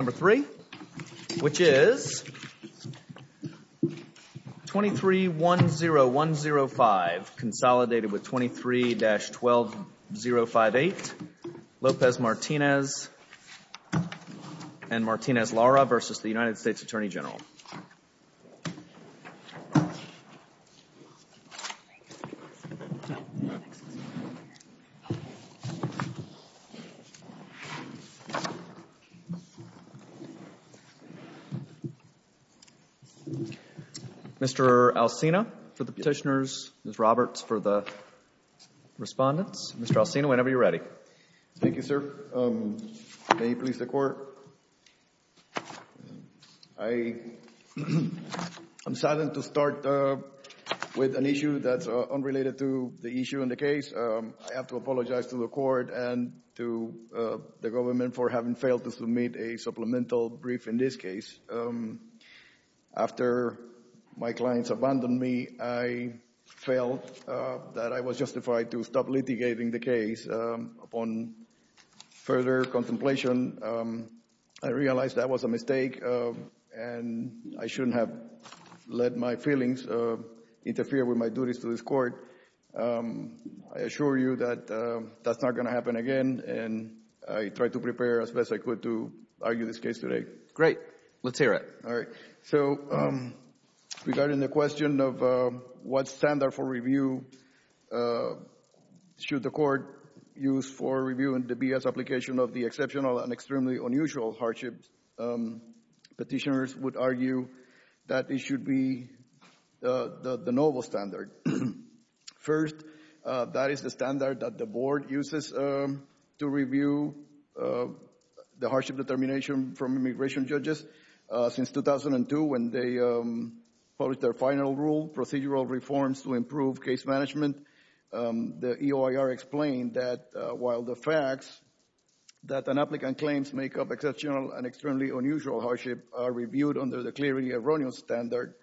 Number three, which is 23-10105, consolidated with 23-12058, Lopez-Martinez and Martinez-Lara v. the United States Attorney General. Mr. Alcina for the petitioners, Ms. Roberts for the respondents, Mr. Alcina, whenever you're ready. Thank you, sir. May it please the Court. I'm saddened to start with an issue that's unrelated to the issue and the case. I have to apologize to the Court and to the government for having failed to submit a supplemental brief in this case. After my clients abandoned me, I felt that I was justified to stop litigating the case. Upon further contemplation, I realized that was a mistake and I shouldn't have let my feelings interfere with my duties to this Court. I assure you that that's not going to happen again, and I tried to prepare as best I could to argue this case today. Great. Let's hear it. All right. So, regarding the question of what standard for review should the Court use for review in the BS application of the exceptional and extremely unusual hardship, petitioners would argue that it should be the novel standard. First, that is the standard that the Board uses to review the hardship determination from immigration judges. Since 2002, when they published their final rule, procedural reforms to improve case management, the EOIR explained that while the facts that an applicant claims make up exceptional and extremely unusual hardship are reviewed under the clearly erroneous standard,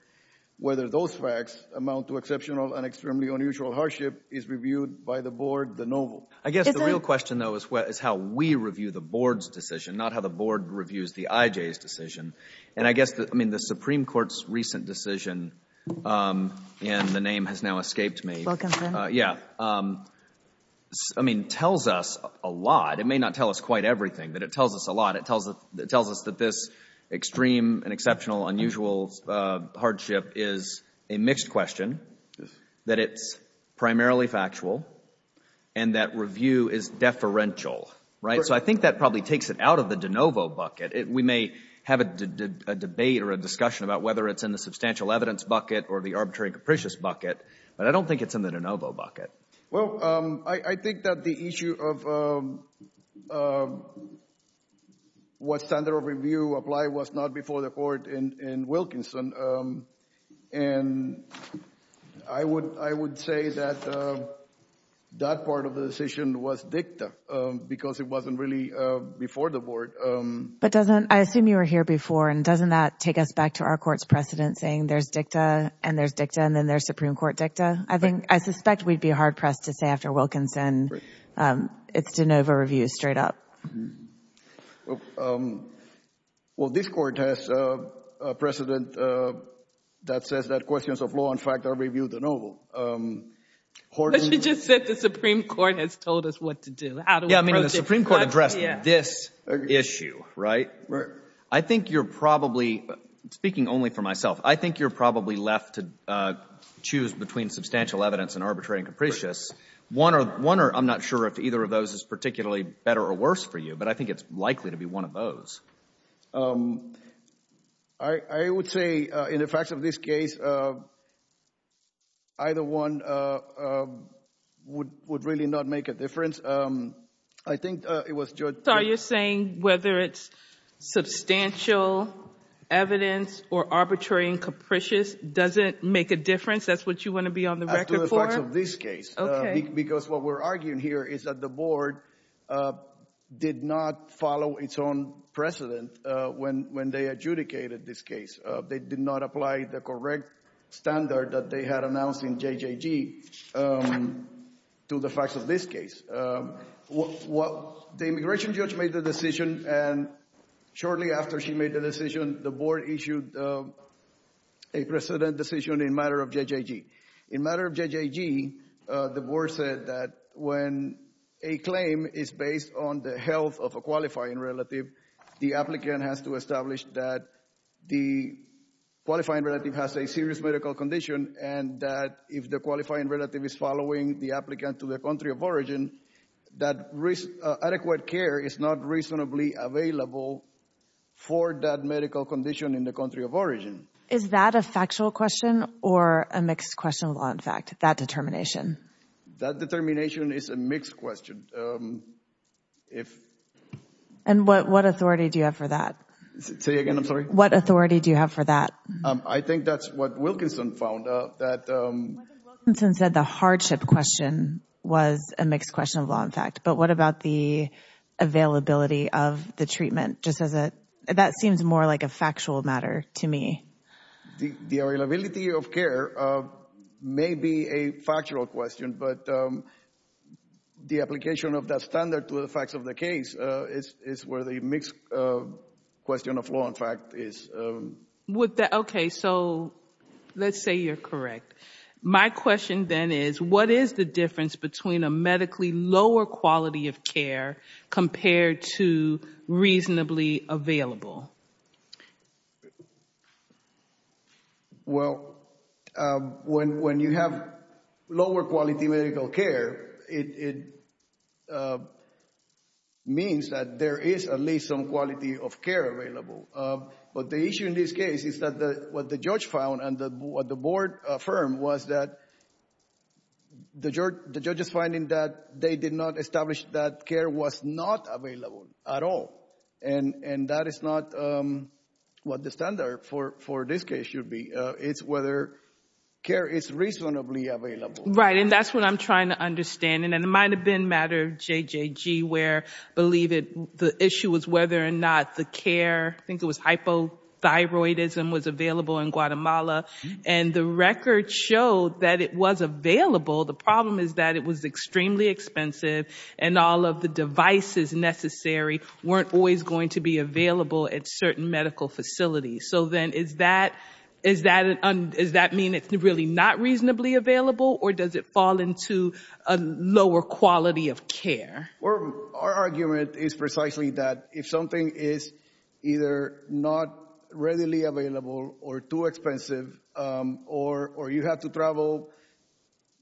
whether those facts amount to exceptional and extremely unusual hardship is reviewed by the Board, the novel. I guess the real question, though, is how we review the Board's decision, not how the Board reviews the IJ's decision. And I guess, I mean, the Supreme Court's recent decision, and the name has now escaped me. Wilkinson. Yeah. I mean, tells us a lot. It may not tell us quite everything, but it tells us a lot. It tells us that this extreme and exceptional unusual hardship is a mixed question, that it's primarily factual, and that review is deferential, right? So I think that probably takes it out of the de novo bucket. We may have a debate or a discussion about whether it's in the substantial evidence bucket or the arbitrary and capricious bucket, but I don't think it's in the de novo bucket. Well, I think that the issue of what standard of review apply was not before the Court in Wilkinson. And I would say that that part of the decision was dicta, because it wasn't really before the Board. But doesn't, I assume you were here before, and doesn't that take us back to our Court's precedent saying there's dicta, and there's dicta, and then there's Supreme Court dicta? I think, I suspect we'd be hard-pressed to say after Wilkinson, it's de novo review straight up. Well, this Court has a precedent that says that questions of law and fact are reviewed de novo. But you just said the Supreme Court has told us what to do. Yeah, I mean, the Supreme Court addressed this issue, right? I think you're probably, speaking only for myself, I think you're probably left to choose between substantial evidence and arbitrary and capricious. One or, I'm not sure if either of those is particularly better or worse for you, but I think it's likely to be one of those. I would say, in the facts of this case, either one would really not make a difference. I think it was Judge— So you're saying whether it's substantial evidence or arbitrary and capricious doesn't make a difference? That's what you want to be on the record for? No, I'm saying in the facts of this case, because what we're arguing here is that the Board did not follow its own precedent when they adjudicated this case. They did not apply the correct standard that they had announced in JJG to the facts of this case. The immigration judge made the decision, and shortly after she made the decision, the Board issued a precedent decision in matter of JJG. In matter of JJG, the Board said that when a claim is based on the health of a qualifying relative, the applicant has to establish that the qualifying relative has a serious medical condition and that if the qualifying relative is following the applicant to the country of origin, that adequate care is not reasonably available for that medical condition in the country of origin. Is that a factual question or a mixed question of law and fact, that determination? That determination is a mixed question. And what authority do you have for that? Say it again, I'm sorry? What authority do you have for that? I think that's what Wilkinson found out. Wilkinson said the hardship question was a mixed question of law and fact, but what about the availability of the treatment? Just as a, that seems more like a factual matter to me. The availability of care may be a factual question, but the application of that standard to the facts of the case is where the mixed question of law and fact is. Okay, so let's say you're correct. My question then is, what is the difference between a medically lower quality of care compared to reasonably available? Well, when you have lower quality medical care, it means that there is at least some quality of care available. But the issue in this case is that what the judge found and what the board affirmed was that the judge is finding that they did not establish that care was not available at all. And that is not what the standard for this case should be. It's whether care is reasonably available. Right, and that's what I'm trying to understand. And it might have been a matter of JJG where, believe it, the issue was whether or not the care, I think it was hypothyroidism, was available in Guatemala. And the record showed that it was available. The problem is that it was extremely expensive and all of the devices necessary weren't always going to be available at certain medical facilities. So then is that mean it's really not reasonably available or does it fall into a lower quality of care? Our argument is precisely that if something is either not readily available or too expensive or you have to travel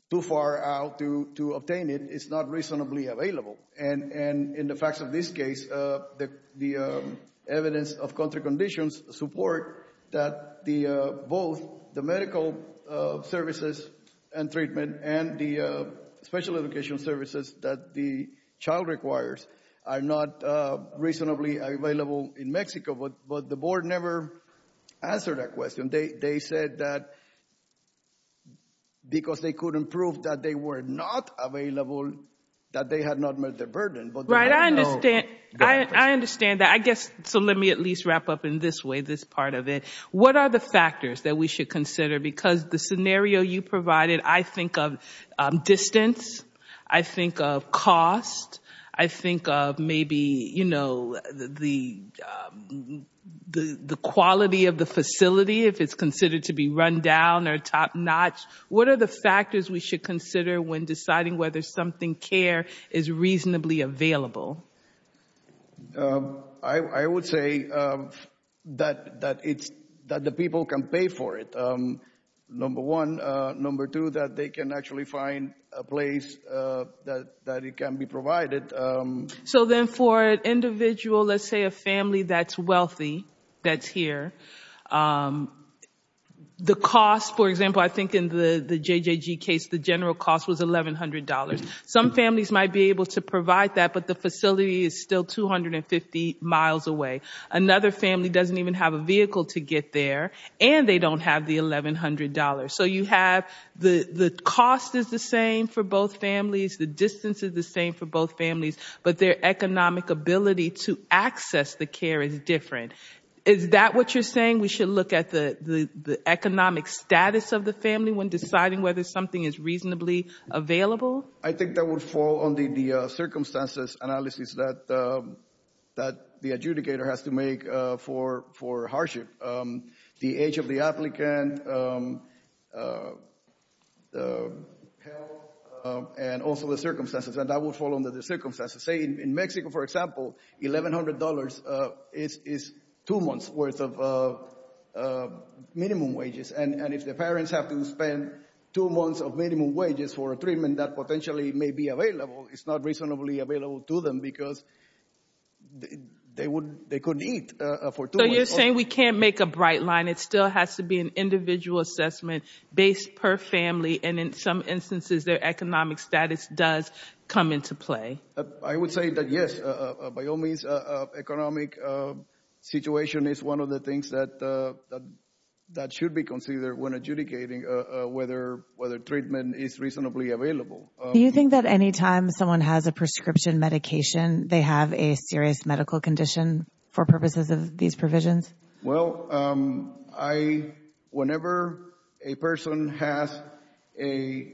too far out to obtain it, it's not reasonably available. And in the facts of this case, the evidence of contra conditions support that both the medical services and treatment and the special education services that the child requires are not reasonably available in Mexico. But the board never answered that question. They said that because they couldn't prove that they were not available, that they had not met the burden. Right, I understand. I understand that. I guess, so let me at least wrap up in this way, this part of it. What are the factors that we should consider? Because the scenario you provided, I think of distance, I think of cost, I think of maybe, you know, the quality of the facility, if it's considered to be run down or top-notch. What are the factors we should consider when deciding whether something care is reasonably available? I would say that the people can pay for it, number one. Number two, that they can actually find a place that it can be provided. So then for an individual, let's say a family that's wealthy, that's here, the cost, for example, I think in the JJG case, the general cost was $1,100. Some families might be able to provide that, but the facility is still 250 miles away. Another family doesn't even have a vehicle to get there, and they don't have the $1,100. So you have, the cost is the same for both families, the distance is the same for both families, but their economic ability to access the care is different. Is that what you're saying, we should look at the economic status of the family when deciding whether something is reasonably available? I think that would fall under the circumstances analysis that the adjudicator has to make for hardship. The age of the applicant, health, and also the circumstances, and that would fall under the circumstances. Say in Mexico, for example, $1,100 is two months' worth of minimum wages, and if the parents have to spend two months of minimum wages for a treatment that potentially may be available, it's not reasonably available to them because they couldn't eat for two So you're saying we can't make a bright line, it still has to be an individual assessment based per family, and in some instances, their economic status does come into play. I would say that yes, by all means, economic situation is one of the things that should be considered when adjudicating whether treatment is reasonably available. Do you think that anytime someone has a prescription medication, they have a serious medical condition for purposes of these provisions? Well, whenever a person has a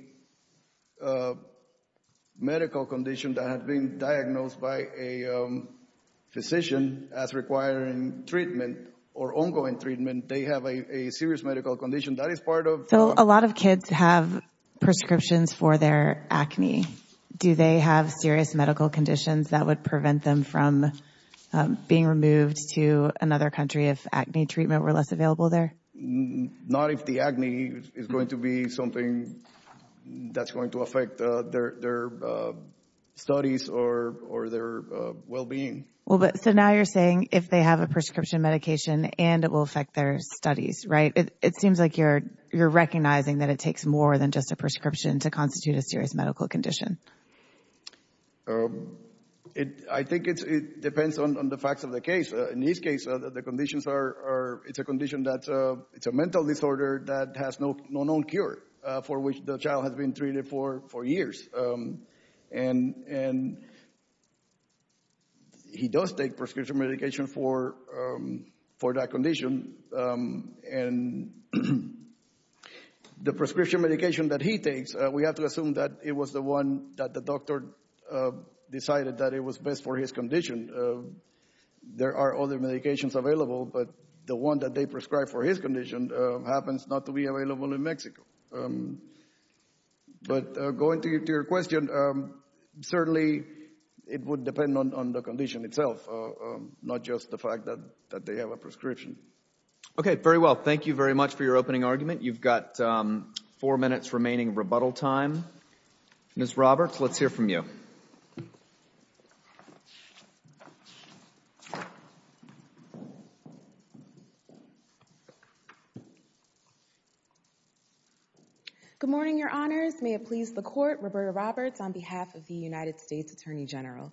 medical condition that has been diagnosed by a physician as requiring treatment or ongoing treatment, they have a serious medical condition, that is part of So a lot of kids have prescriptions for their acne. Do they have serious medical conditions that would prevent them from being removed to another country if acne treatment were less available there? Not if the acne is going to be something that's going to affect their studies or their well-being. So now you're saying if they have a prescription medication and it will affect their studies, right? It seems like you're recognizing that it takes more than just a prescription to constitute a serious medical condition. I think it depends on the facts of the case. In his case, the conditions are, it's a condition that, it's a mental disorder that has no known cure for which the child has been treated for years, and he does take prescription medication for that condition, and the prescription medication that he takes, we have to assume that it was the one that the doctor decided that it was best for his condition. There are other medications available, but the one that they prescribed for his condition happens not to be available in Mexico. But going to your question, certainly it would depend on the condition itself, not just the fact that they have a prescription. Okay, very well. Thank you very much for your opening argument. You've got four minutes remaining of rebuttal time. Ms. Roberts, let's hear from you. Good morning, your honors. May it please the court, Roberta Roberts on behalf of the United States Attorney General.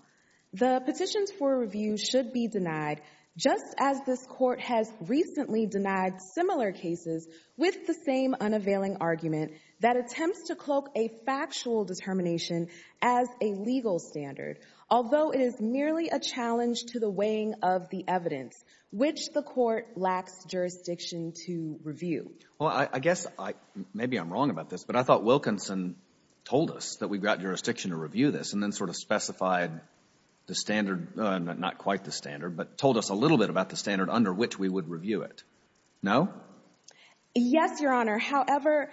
The petitions for review should be denied, just as this court has recently denied similar cases with the same unavailing argument that attempts to cloak a factual determination as a legal standard, although it is merely a challenge to the weighing of the evidence, which the court lacks jurisdiction to review. Well, I guess I, maybe I'm wrong about this, but I thought Wilkinson told us that we got jurisdiction to review this, and then sort of specified the standard, not quite the standard, but told us a little bit about the standard under which we would review it. No? Yes, your honor. However,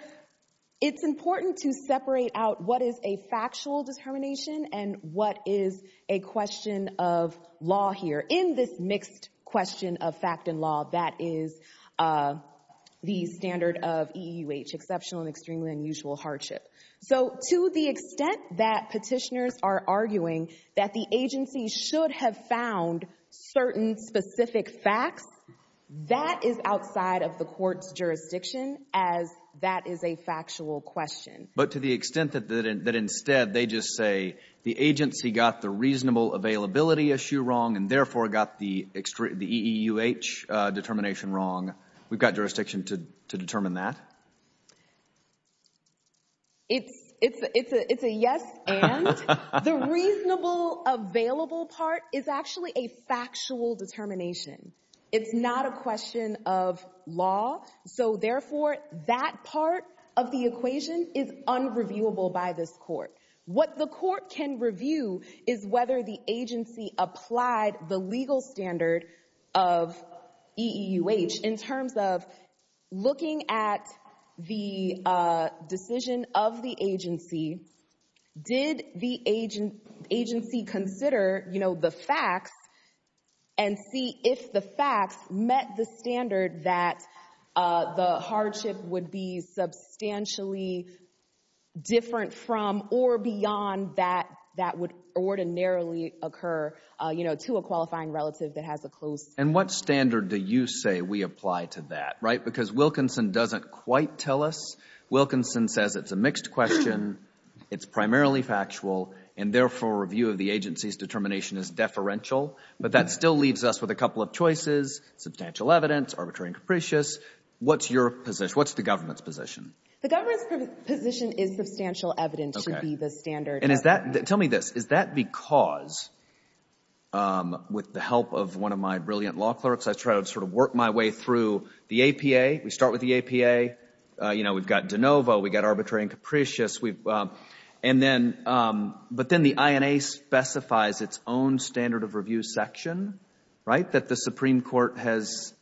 it's important to separate out what is a factual determination and what is a question of law here. In this mixed question of fact and law, that is the standard of EEUH, exceptional and extremely unusual hardship. So, to the extent that petitioners are arguing that the agency should have found certain specific facts, that is outside of the court's jurisdiction as that is a factual question. But to the extent that instead they just say the agency got the reasonable availability issue wrong and therefore got the EEUH determination wrong, we've got jurisdiction to determine that? It's a yes and. The reasonable available part is actually a factual determination. It's not a question of law. So, therefore, that part of the equation is unreviewable by this court. What the court can review is whether the agency applied the legal standard of EEUH in terms of looking at the decision of the agency, did the agency consider, you know, the facts and see if the facts met the standard that the hardship would be substantially different from or beyond that that would ordinarily occur, you know, to a qualifying relative that has a close. And what standard do you say we apply to that, right? Because Wilkinson doesn't quite tell us. Wilkinson says it's a mixed question, it's primarily factual, and therefore a review of the agency's determination is deferential. But that still leaves us with a couple of choices, substantial evidence, arbitrary and What's your position? What's the government's position? The government's position is substantial evidence to be the standard. Tell me this. Is that because, with the help of one of my brilliant law clerks, I try to sort of work my way through the APA, we start with the APA, you know, we've got de novo, we've got arbitrary and capricious, and then, but then the INA specifies its own standard of review section, right, that the Supreme Court has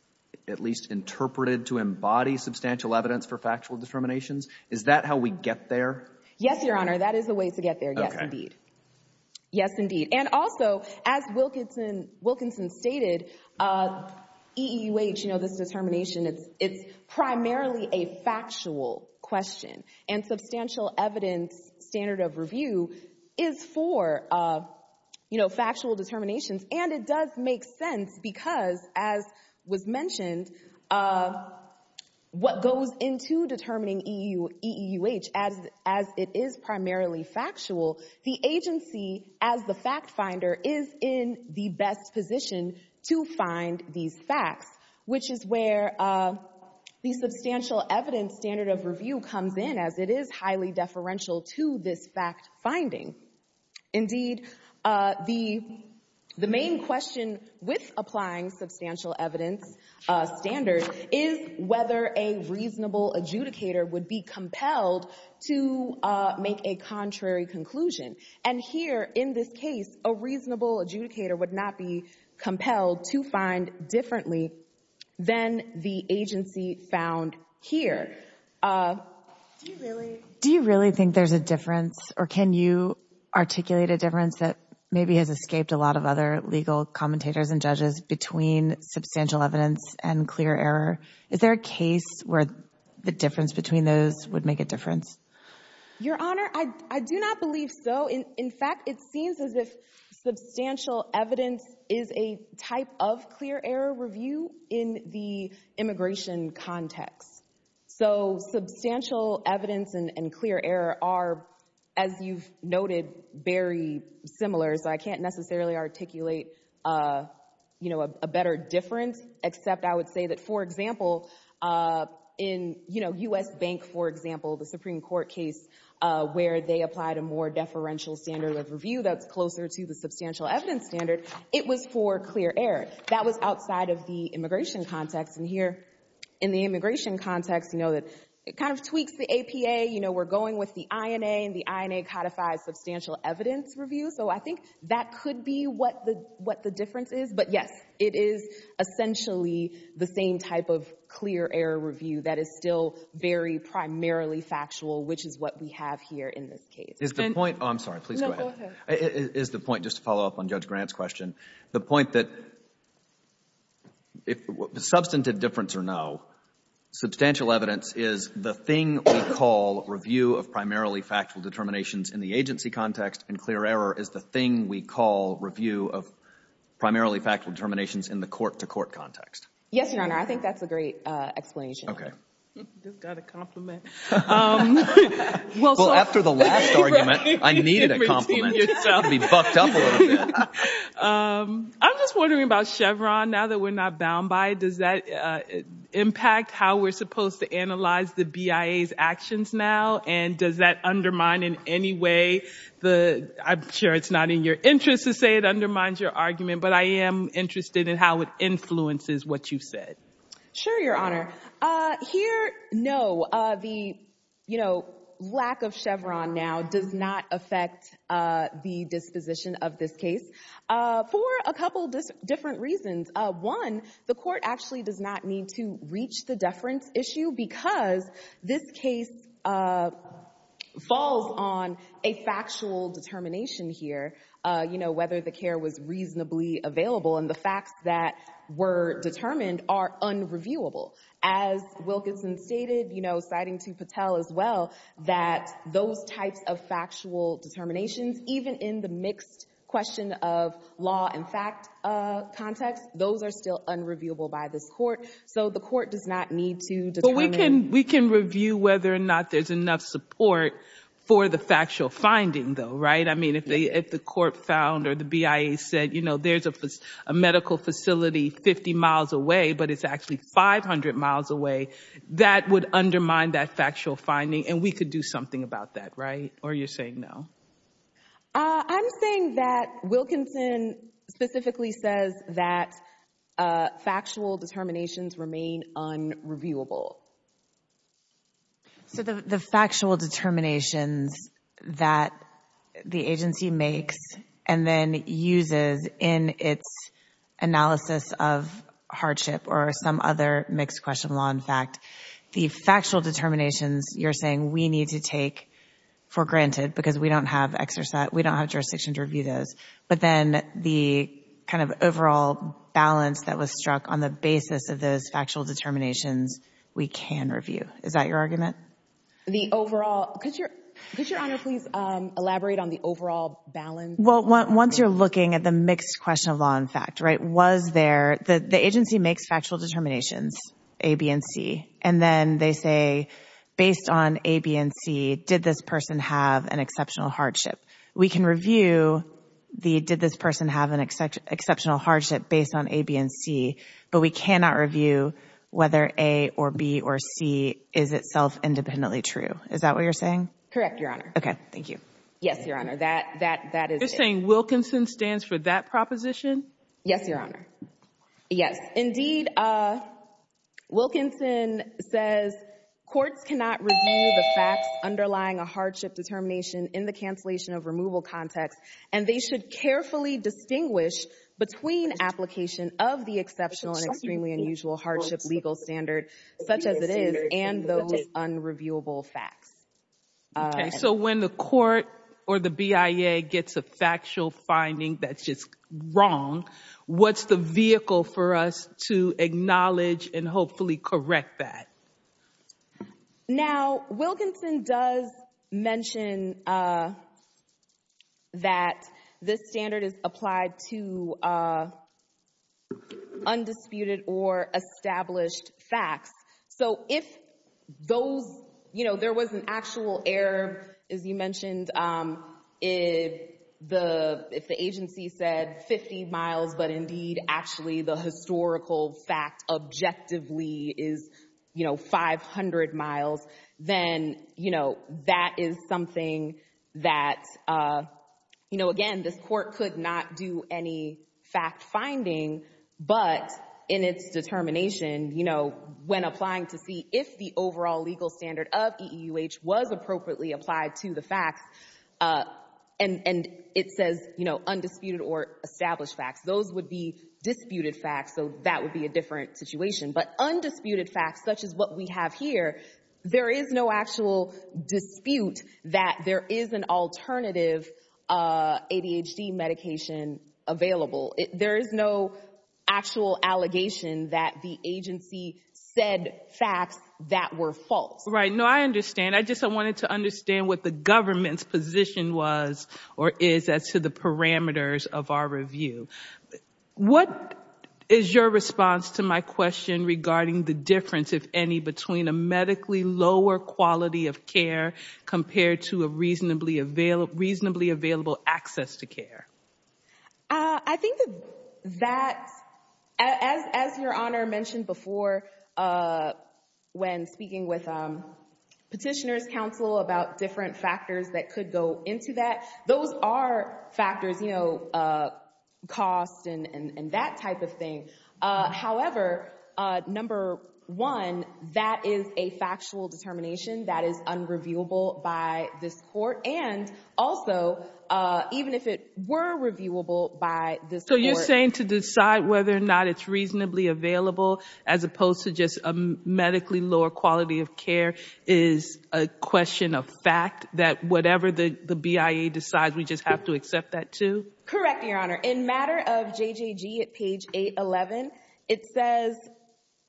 at least interpreted to embody substantial evidence for factual determinations? Is that how we get there? Yes, Your Honor. That is the way to get there. Yes, indeed. Yes, indeed. And also, as Wilkinson stated, EEUH, you know, this determination, it's primarily a factual question, and substantial evidence standard of review is for, you know, factual determinations. And it does make sense because, as was mentioned, what goes into determining EEUH, as it is primarily factual, the agency, as the fact finder, is in the best position to find these facts, which is where the substantial evidence standard of review comes in, as it is highly deferential to this fact finding. Indeed, the main question with applying substantial evidence standard is whether a reasonable adjudicator would be compelled to make a contrary conclusion. And here, in this case, a reasonable adjudicator would not be compelled to find differently than the agency found here. Do you really think there's a difference, or can you articulate a difference that maybe has escaped a lot of other legal commentators and judges between substantial evidence and clear error? Is there a case where the difference between those would make a difference? Your Honor, I do not believe so. In fact, it seems as if substantial evidence is a type of clear error review in the immigration context. So substantial evidence and clear error are, as you've noted, very similar, so I can't necessarily articulate a better difference, except I would say that, for example, in U.S. Bank, for example, the Supreme Court case where they applied a more deferential standard of review that's closer to the substantial evidence standard, it was for clear error. That was outside of the immigration context. And here, in the immigration context, it kind of tweaks the APA. We're going with the INA, and the INA codifies substantial evidence review. So I think that could be what the difference is. But yes, it is essentially the same type of clear error review that is still very primarily factual, which is what we have here in this case. Is the point—oh, I'm sorry. Please go ahead. No, go ahead. Is the point, just to follow up on Judge Grant's question, the point that, substantive difference or no, substantial evidence is the thing we call review of primarily factual determinations in the court-to-court context? Yes, Your Honor. I think that's a great explanation. Okay. Just got a compliment. Well, after the last argument, I needed a compliment. You can be buffed up a little bit. I'm just wondering about Chevron, now that we're not bound by it. Does that impact how we're supposed to analyze the BIA's actions now? And does that undermine in any way the—I'm sure that's a question that's being asked not in your interest to say it undermines your argument, but I am interested in how it influences what you've said. Sure, Your Honor. Here, no. The lack of Chevron now does not affect the disposition of this case for a couple different reasons. One, the court actually does not need to reach the deference issue because this case falls on a factual determination here, whether the care was reasonably available. And the facts that were determined are unreviewable. As Wilkinson stated, citing to Patel as well, that those types of factual determinations, even in the mixed question of law and fact context, those are still unreviewable by this So the court does not need to determine— support for the factual finding though, right? I mean, if the court found or the BIA said, you know, there's a medical facility 50 miles away, but it's actually 500 miles away, that would undermine that factual finding, and we could do something about that, right? Or you're saying no? I'm saying that Wilkinson specifically says that factual determinations remain unreviewable. So the factual determinations that the agency makes and then uses in its analysis of hardship or some other mixed question of law and fact, the factual determinations you're saying we need to take for granted because we don't have jurisdiction to review those. But then the kind of overall balance that was struck on the basis of those factual determinations, we can review. Is that your argument? The overall—could your Honor please elaborate on the overall balance? Well, once you're looking at the mixed question of law and fact, right? Was there—the agency makes factual determinations, A, B, and C, and then they say, based on A, B, and C, did this person have an exceptional hardship? We can review the did this person have an exceptional hardship based on A, B, and C, but we cannot review whether A, or B, or C is itself independently true. Is that what you're saying? Correct, Your Honor. Okay, thank you. Yes, Your Honor, that is it. You're saying Wilkinson stands for that proposition? Yes, Your Honor. Yes, indeed. Wilkinson says courts cannot review the facts underlying a hardship determination in the cancellation of removal context, and they should carefully distinguish between application of the exceptional and extremely unusual hardship legal standard, such as it is, and those unreviewable facts. Okay, so when the court or the BIA gets a factual finding that's just wrong, what's the vehicle for us to acknowledge and hopefully correct that? Now, Wilkinson does mention that this standard is applied to undisputed or established facts. So, if there was an actual error, as you mentioned, if the agency said 50 miles, but indeed, actually, the historical fact objectively is 500 miles, then that is something that, again, this court could not do any fact finding, but in its determination, when applying to see if the overall legal standard of EEUH was appropriately applied to the facts, and it says, you know, undisputed or established facts, those would be disputed facts, so that would be a different situation. But undisputed facts, such as what we have here, there is no actual dispute that there is an alternative ADHD medication available. There is no actual allegation that the agency said facts that were false. Right, no, I understand. I just wanted to understand what the government's position was, or is, as to the parameters of our review. What is your response to my question regarding the difference, if any, between a medically lower quality of care compared to a reasonably available access to care? I think that, as Your Honor mentioned before, when speaking with petitioners' counsel about different factors that could go into that, those are factors, you know, cost and that type of thing. However, number one, that is a factual determination that is unreviewable by this and also, even if it were reviewable by this court. So you're saying to decide whether or not it's reasonably available, as opposed to just a medically lower quality of care, is a question of fact, that whatever the BIA decides, we just have to accept that too? Correct, Your Honor. In matter of JJG at page 811, it says,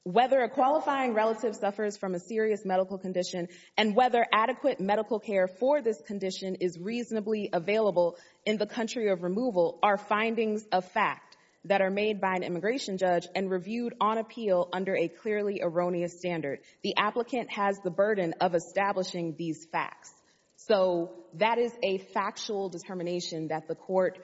whether a qualifying relative suffers from a serious medical condition and whether adequate medical care for this condition is reasonably available in the country of removal are findings of fact that are made by an immigration judge and reviewed on appeal under a clearly erroneous standard. The applicant has the burden of establishing these facts. So that is a factual determination that the court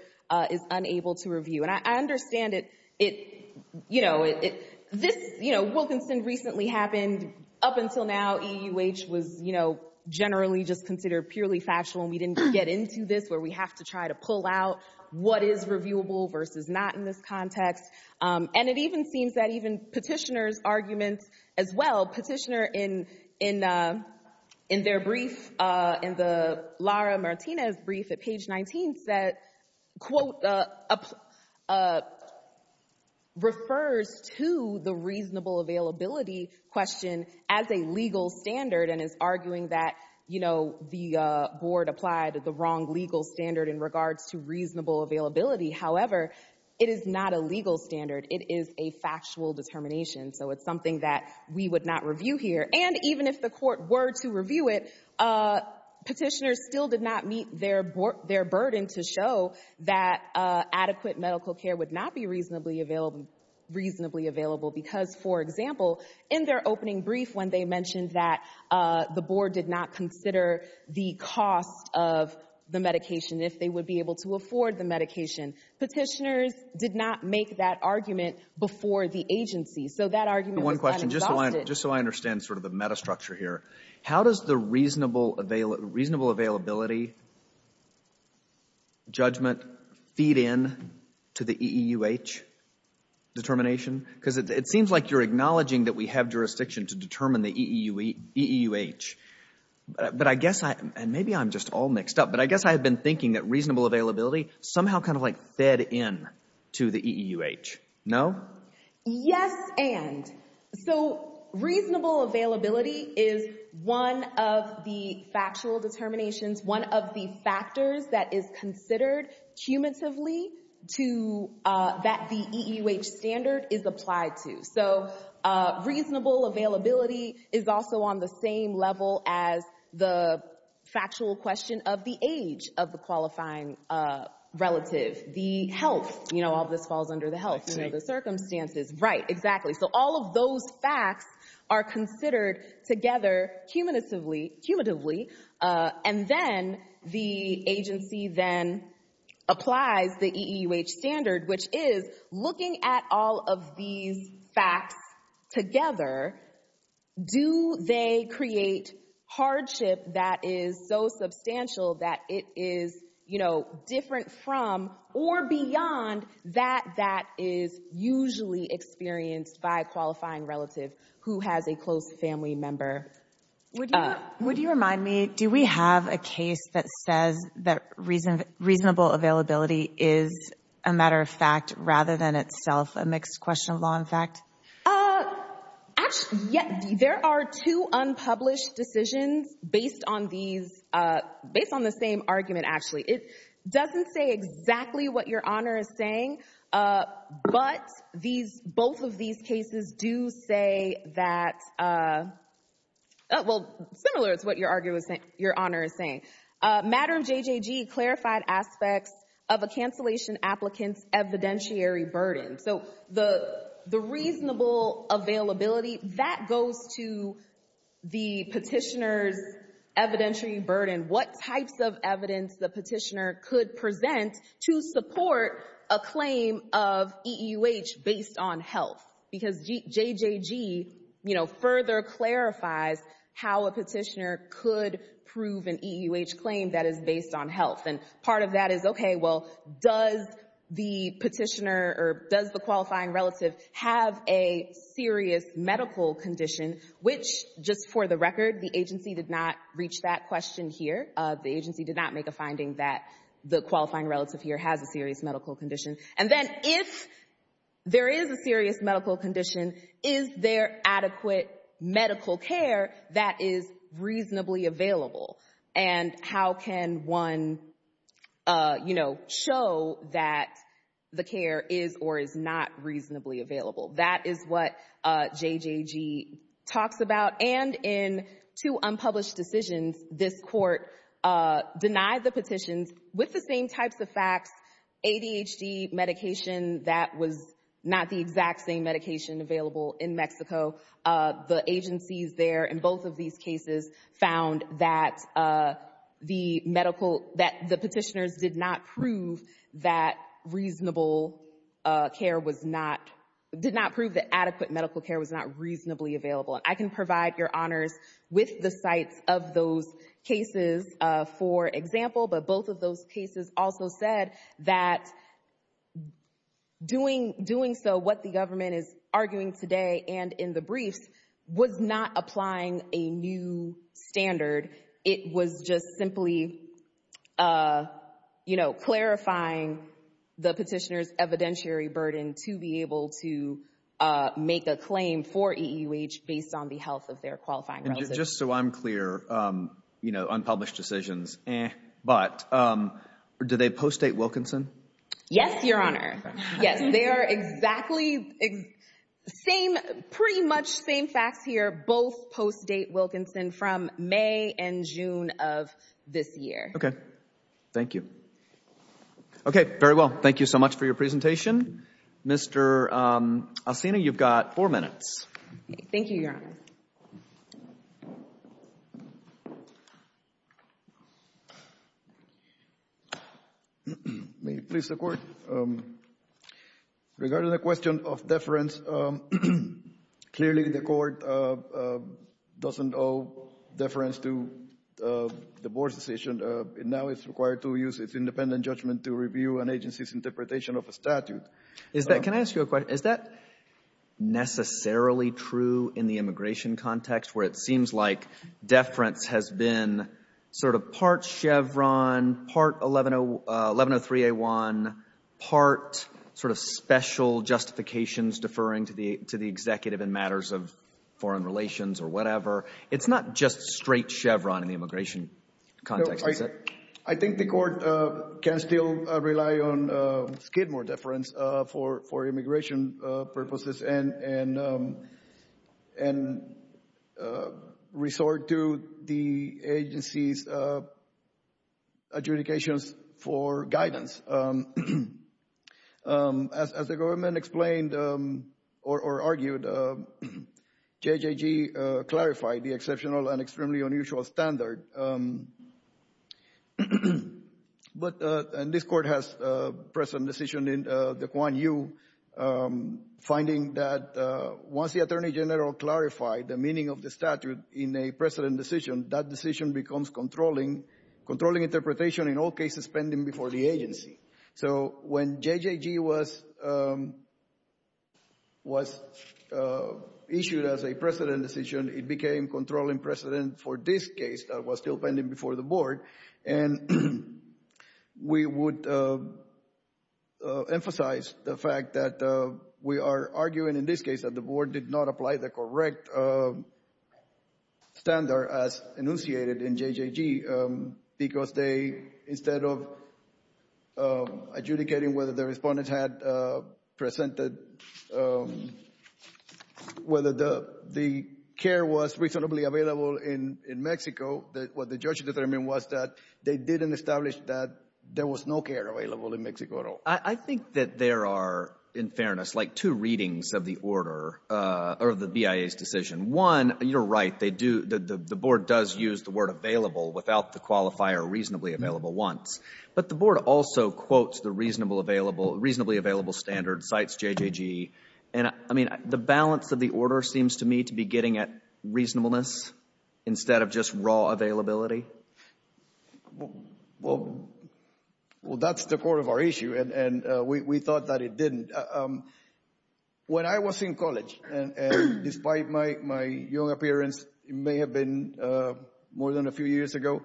is unable to review. And I understand it, you know, Wilkinson recently happened, up until now, EUH was, you know, generally just considered purely factual and we didn't get into this where we have to try to pull out what is reviewable versus not in this context. And it even seems that even petitioner's arguments as well, petitioner in their brief, in the Lara Martinez brief at page 19, quote, refers to the reasonable availability question as a legal standard and is arguing that, you know, the board applied the wrong legal standard in regards to reasonable availability. However, it is not a legal standard. It is a factual determination. So it's something that we would not review here. And even if the court were to review it, petitioners still did not meet their burden to show that adequate medical care would not be reasonably available. Because, for example, in their opening brief, when they mentioned that the board did not consider the cost of the medication, if they would be able to afford the medication, petitioners did not make that argument before the agency. So that argument was then exhausted. One question, just so I understand sort of the metastructure here. How does the reasonable availability judgment feed in to the EEUH determination? Because it seems like you're acknowledging that we have jurisdiction to determine the EEUH. But I guess, and maybe I'm just all mixed up, but I guess I've been thinking that reasonable availability somehow kind of like fed in to the EEUH, no? Yes, and. So reasonable availability is one of the factual determinations, one of the factors that is considered cumulatively that the EEUH standard is applied to. So reasonable availability is also on the same level as the factual question of the age of the qualifying relative, the health, you know, all this falls under the health, the circumstances. Right, exactly. So all of those facts are considered together cumulatively. And then the agency then applies the EEUH standard, which is looking at all of these facts together, do they create hardship that is so substantial that it is, different from or beyond that, that is usually experienced by a qualifying relative who has a close family member. Would you remind me, do we have a case that says that reasonable availability is a matter of fact, rather than itself a mixed question of law and fact? Actually, yeah, there are two unpublished decisions based on these, based on the same argument, actually. It doesn't say exactly what your honor is saying, but both of these cases do say that, well, similar to what your honor is saying. Matter of JJG clarified aspects of a cancellation applicant's evidentiary burden. So the reasonable availability, that goes to the petitioner's evidentiary burden. What types of evidence the petitioner could present to support a claim of EEUH based on health? Because JJG further clarifies how a petitioner could prove an EEUH claim that is based on health. And part of that is, okay, well, does the petitioner or does the qualifying relative have a serious medical condition, which just for the record, the agency did not reach that question here. The agency did not make a finding that the qualifying relative here has a serious medical condition. And then if there is a serious medical condition, is there adequate medical care that is reasonably available? And how can one show that the care is or is not reasonably available? That is what JJG talks about. And in two unpublished decisions, this court denied the petitions with the same types of facts, ADHD medication that was not the exact same medication available in Mexico. The agencies there in both of these cases found that the medical, that the petitioners did not prove that reasonable care was not, did not prove that adequate medical care was not reasonably available. And I can provide your honors with the sites of those cases, for example, but both of those cases also said that doing so what the government is arguing today and in the briefs was not applying a new standard. It was just simply clarifying the petitioner's evidentiary burden to be able to make a claim for EEUH based on the health of their qualifying relatives. And just so I'm clear, unpublished decisions, eh. But do they post-date Wilkinson? Yes, your honor. Yes, they are exactly same, pretty much same facts here. Both post-date Wilkinson from May and June of this year. Okay, thank you. Okay, very well. Thank you so much for your presentation. Mr. Asena, you've got four minutes. Thank you, your honor. May it please the court? Regarding the question of deference, clearly the court doesn't owe deference to the board's decision. Now it's required to use its independent judgment to review an agency's interpretation of a statute. Is that, can I ask you a question? Is that necessarily true in the immigration context where it seems like deference has been sort of part Chevron, part 1103A1, part sort of special justifications deferring to the executive in matters of foreign relations or whatever. It's not just straight Chevron in the immigration context, is it? I think the court can still rely on Skidmore deference. For immigration purposes and resort to the agency's adjudications for guidance. As the government explained or argued, JJG clarified the exceptional and extremely unusual standard. But, and this court has present decision in the Quan Yu finding that once the attorney general clarified the meaning of the statute in a precedent decision, that decision becomes controlling, controlling interpretation in all cases pending before the agency. So when JJG was issued as a precedent decision, it became controlling precedent for this case that was still pending before the board. And we would emphasize the fact that we are arguing in this case that the board did not apply the correct standard as enunciated in JJG because they, instead of adjudicating whether the respondents had presented, whether the care was reasonably available in Mexico, that what the judge determined was that they didn't establish that there was no care available in Mexico at all. I think that there are, in fairness, like two readings of the order or the BIA's decision. One, you're right. They do, the board does use the word available without the qualifier reasonably available once. But the board also quotes the reasonably available standard and cites JJG. And I mean, the balance of the order seems to me to be getting at reasonableness instead of just raw availability. Well, that's the core of our issue, and we thought that it didn't. When I was in college, and despite my young appearance, it may have been more than a few years ago,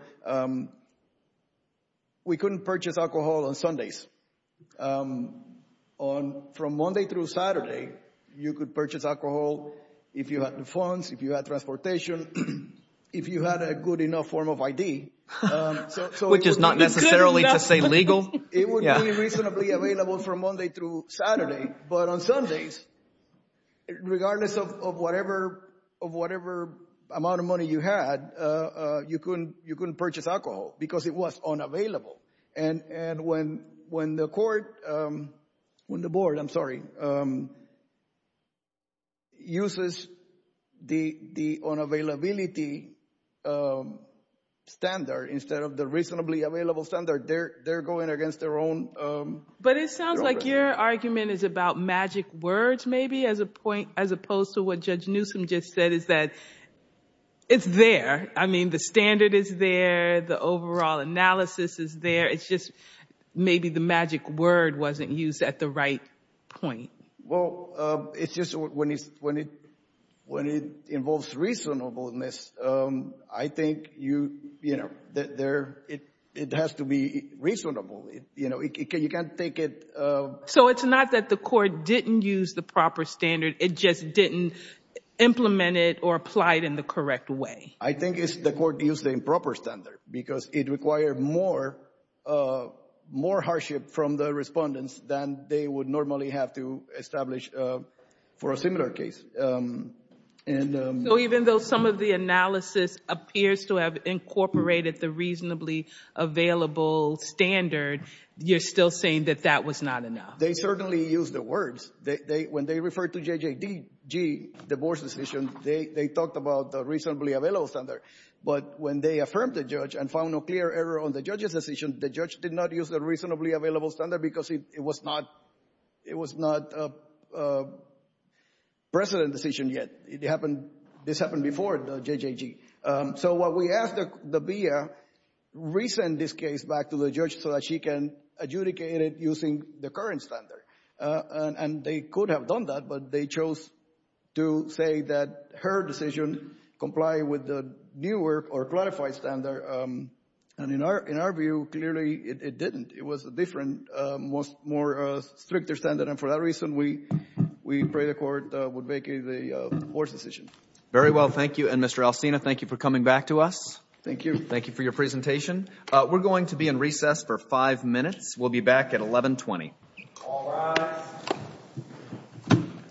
we couldn't purchase alcohol on Sundays because from Monday through Saturday, you could purchase alcohol if you had the funds, if you had transportation, if you had a good enough form of ID. Which is not necessarily to say legal. It would be reasonably available from Monday through Saturday. But on Sundays, regardless of whatever amount of money you had, you couldn't purchase alcohol because it was unavailable. And when the court, when the board, I'm sorry, uses the unavailability standard instead of the reasonably available standard, they're going against their own- But it sounds like your argument is about magic words, maybe, as opposed to what Judge Newsom just said, is that it's there. I mean, the standard is there. The overall analysis is there. It's just maybe the magic word wasn't used at the right point. Well, it's just when it involves reasonableness, I think it has to be reasonable. You can't take it- So it's not that the court didn't use the proper standard. It just didn't implement it or apply it in the correct way. I think it's the court used the improper standard because it required more hardship from the respondents than they would normally have to establish for a similar case. So even though some of the analysis appears to have incorporated the reasonably available standard, you're still saying that that was not enough. They certainly used the words. When they referred to JJG, divorce decision, they talked about the reasonably available standard. But when they affirmed the judge and found no clear error on the judge's decision, the judge did not use the reasonably available standard because it was not a precedent decision yet. This happened before JJG. So what we ask the BIA, re-send this case back to the judge so that she can adjudicate it using the current standard. And they could have done that, but they chose to say that her decision complied with the newer or clarified standard. And in our view, clearly it didn't. It was a different, more stricter standard. And for that reason, we pray the court would make a worse decision. Very well, thank you. And Mr. Alcina, thank you for coming back to us. Thank you. Thank you for your presentation. We're going to be in recess for five minutes. We'll be back at 1120. All rise. Thank you.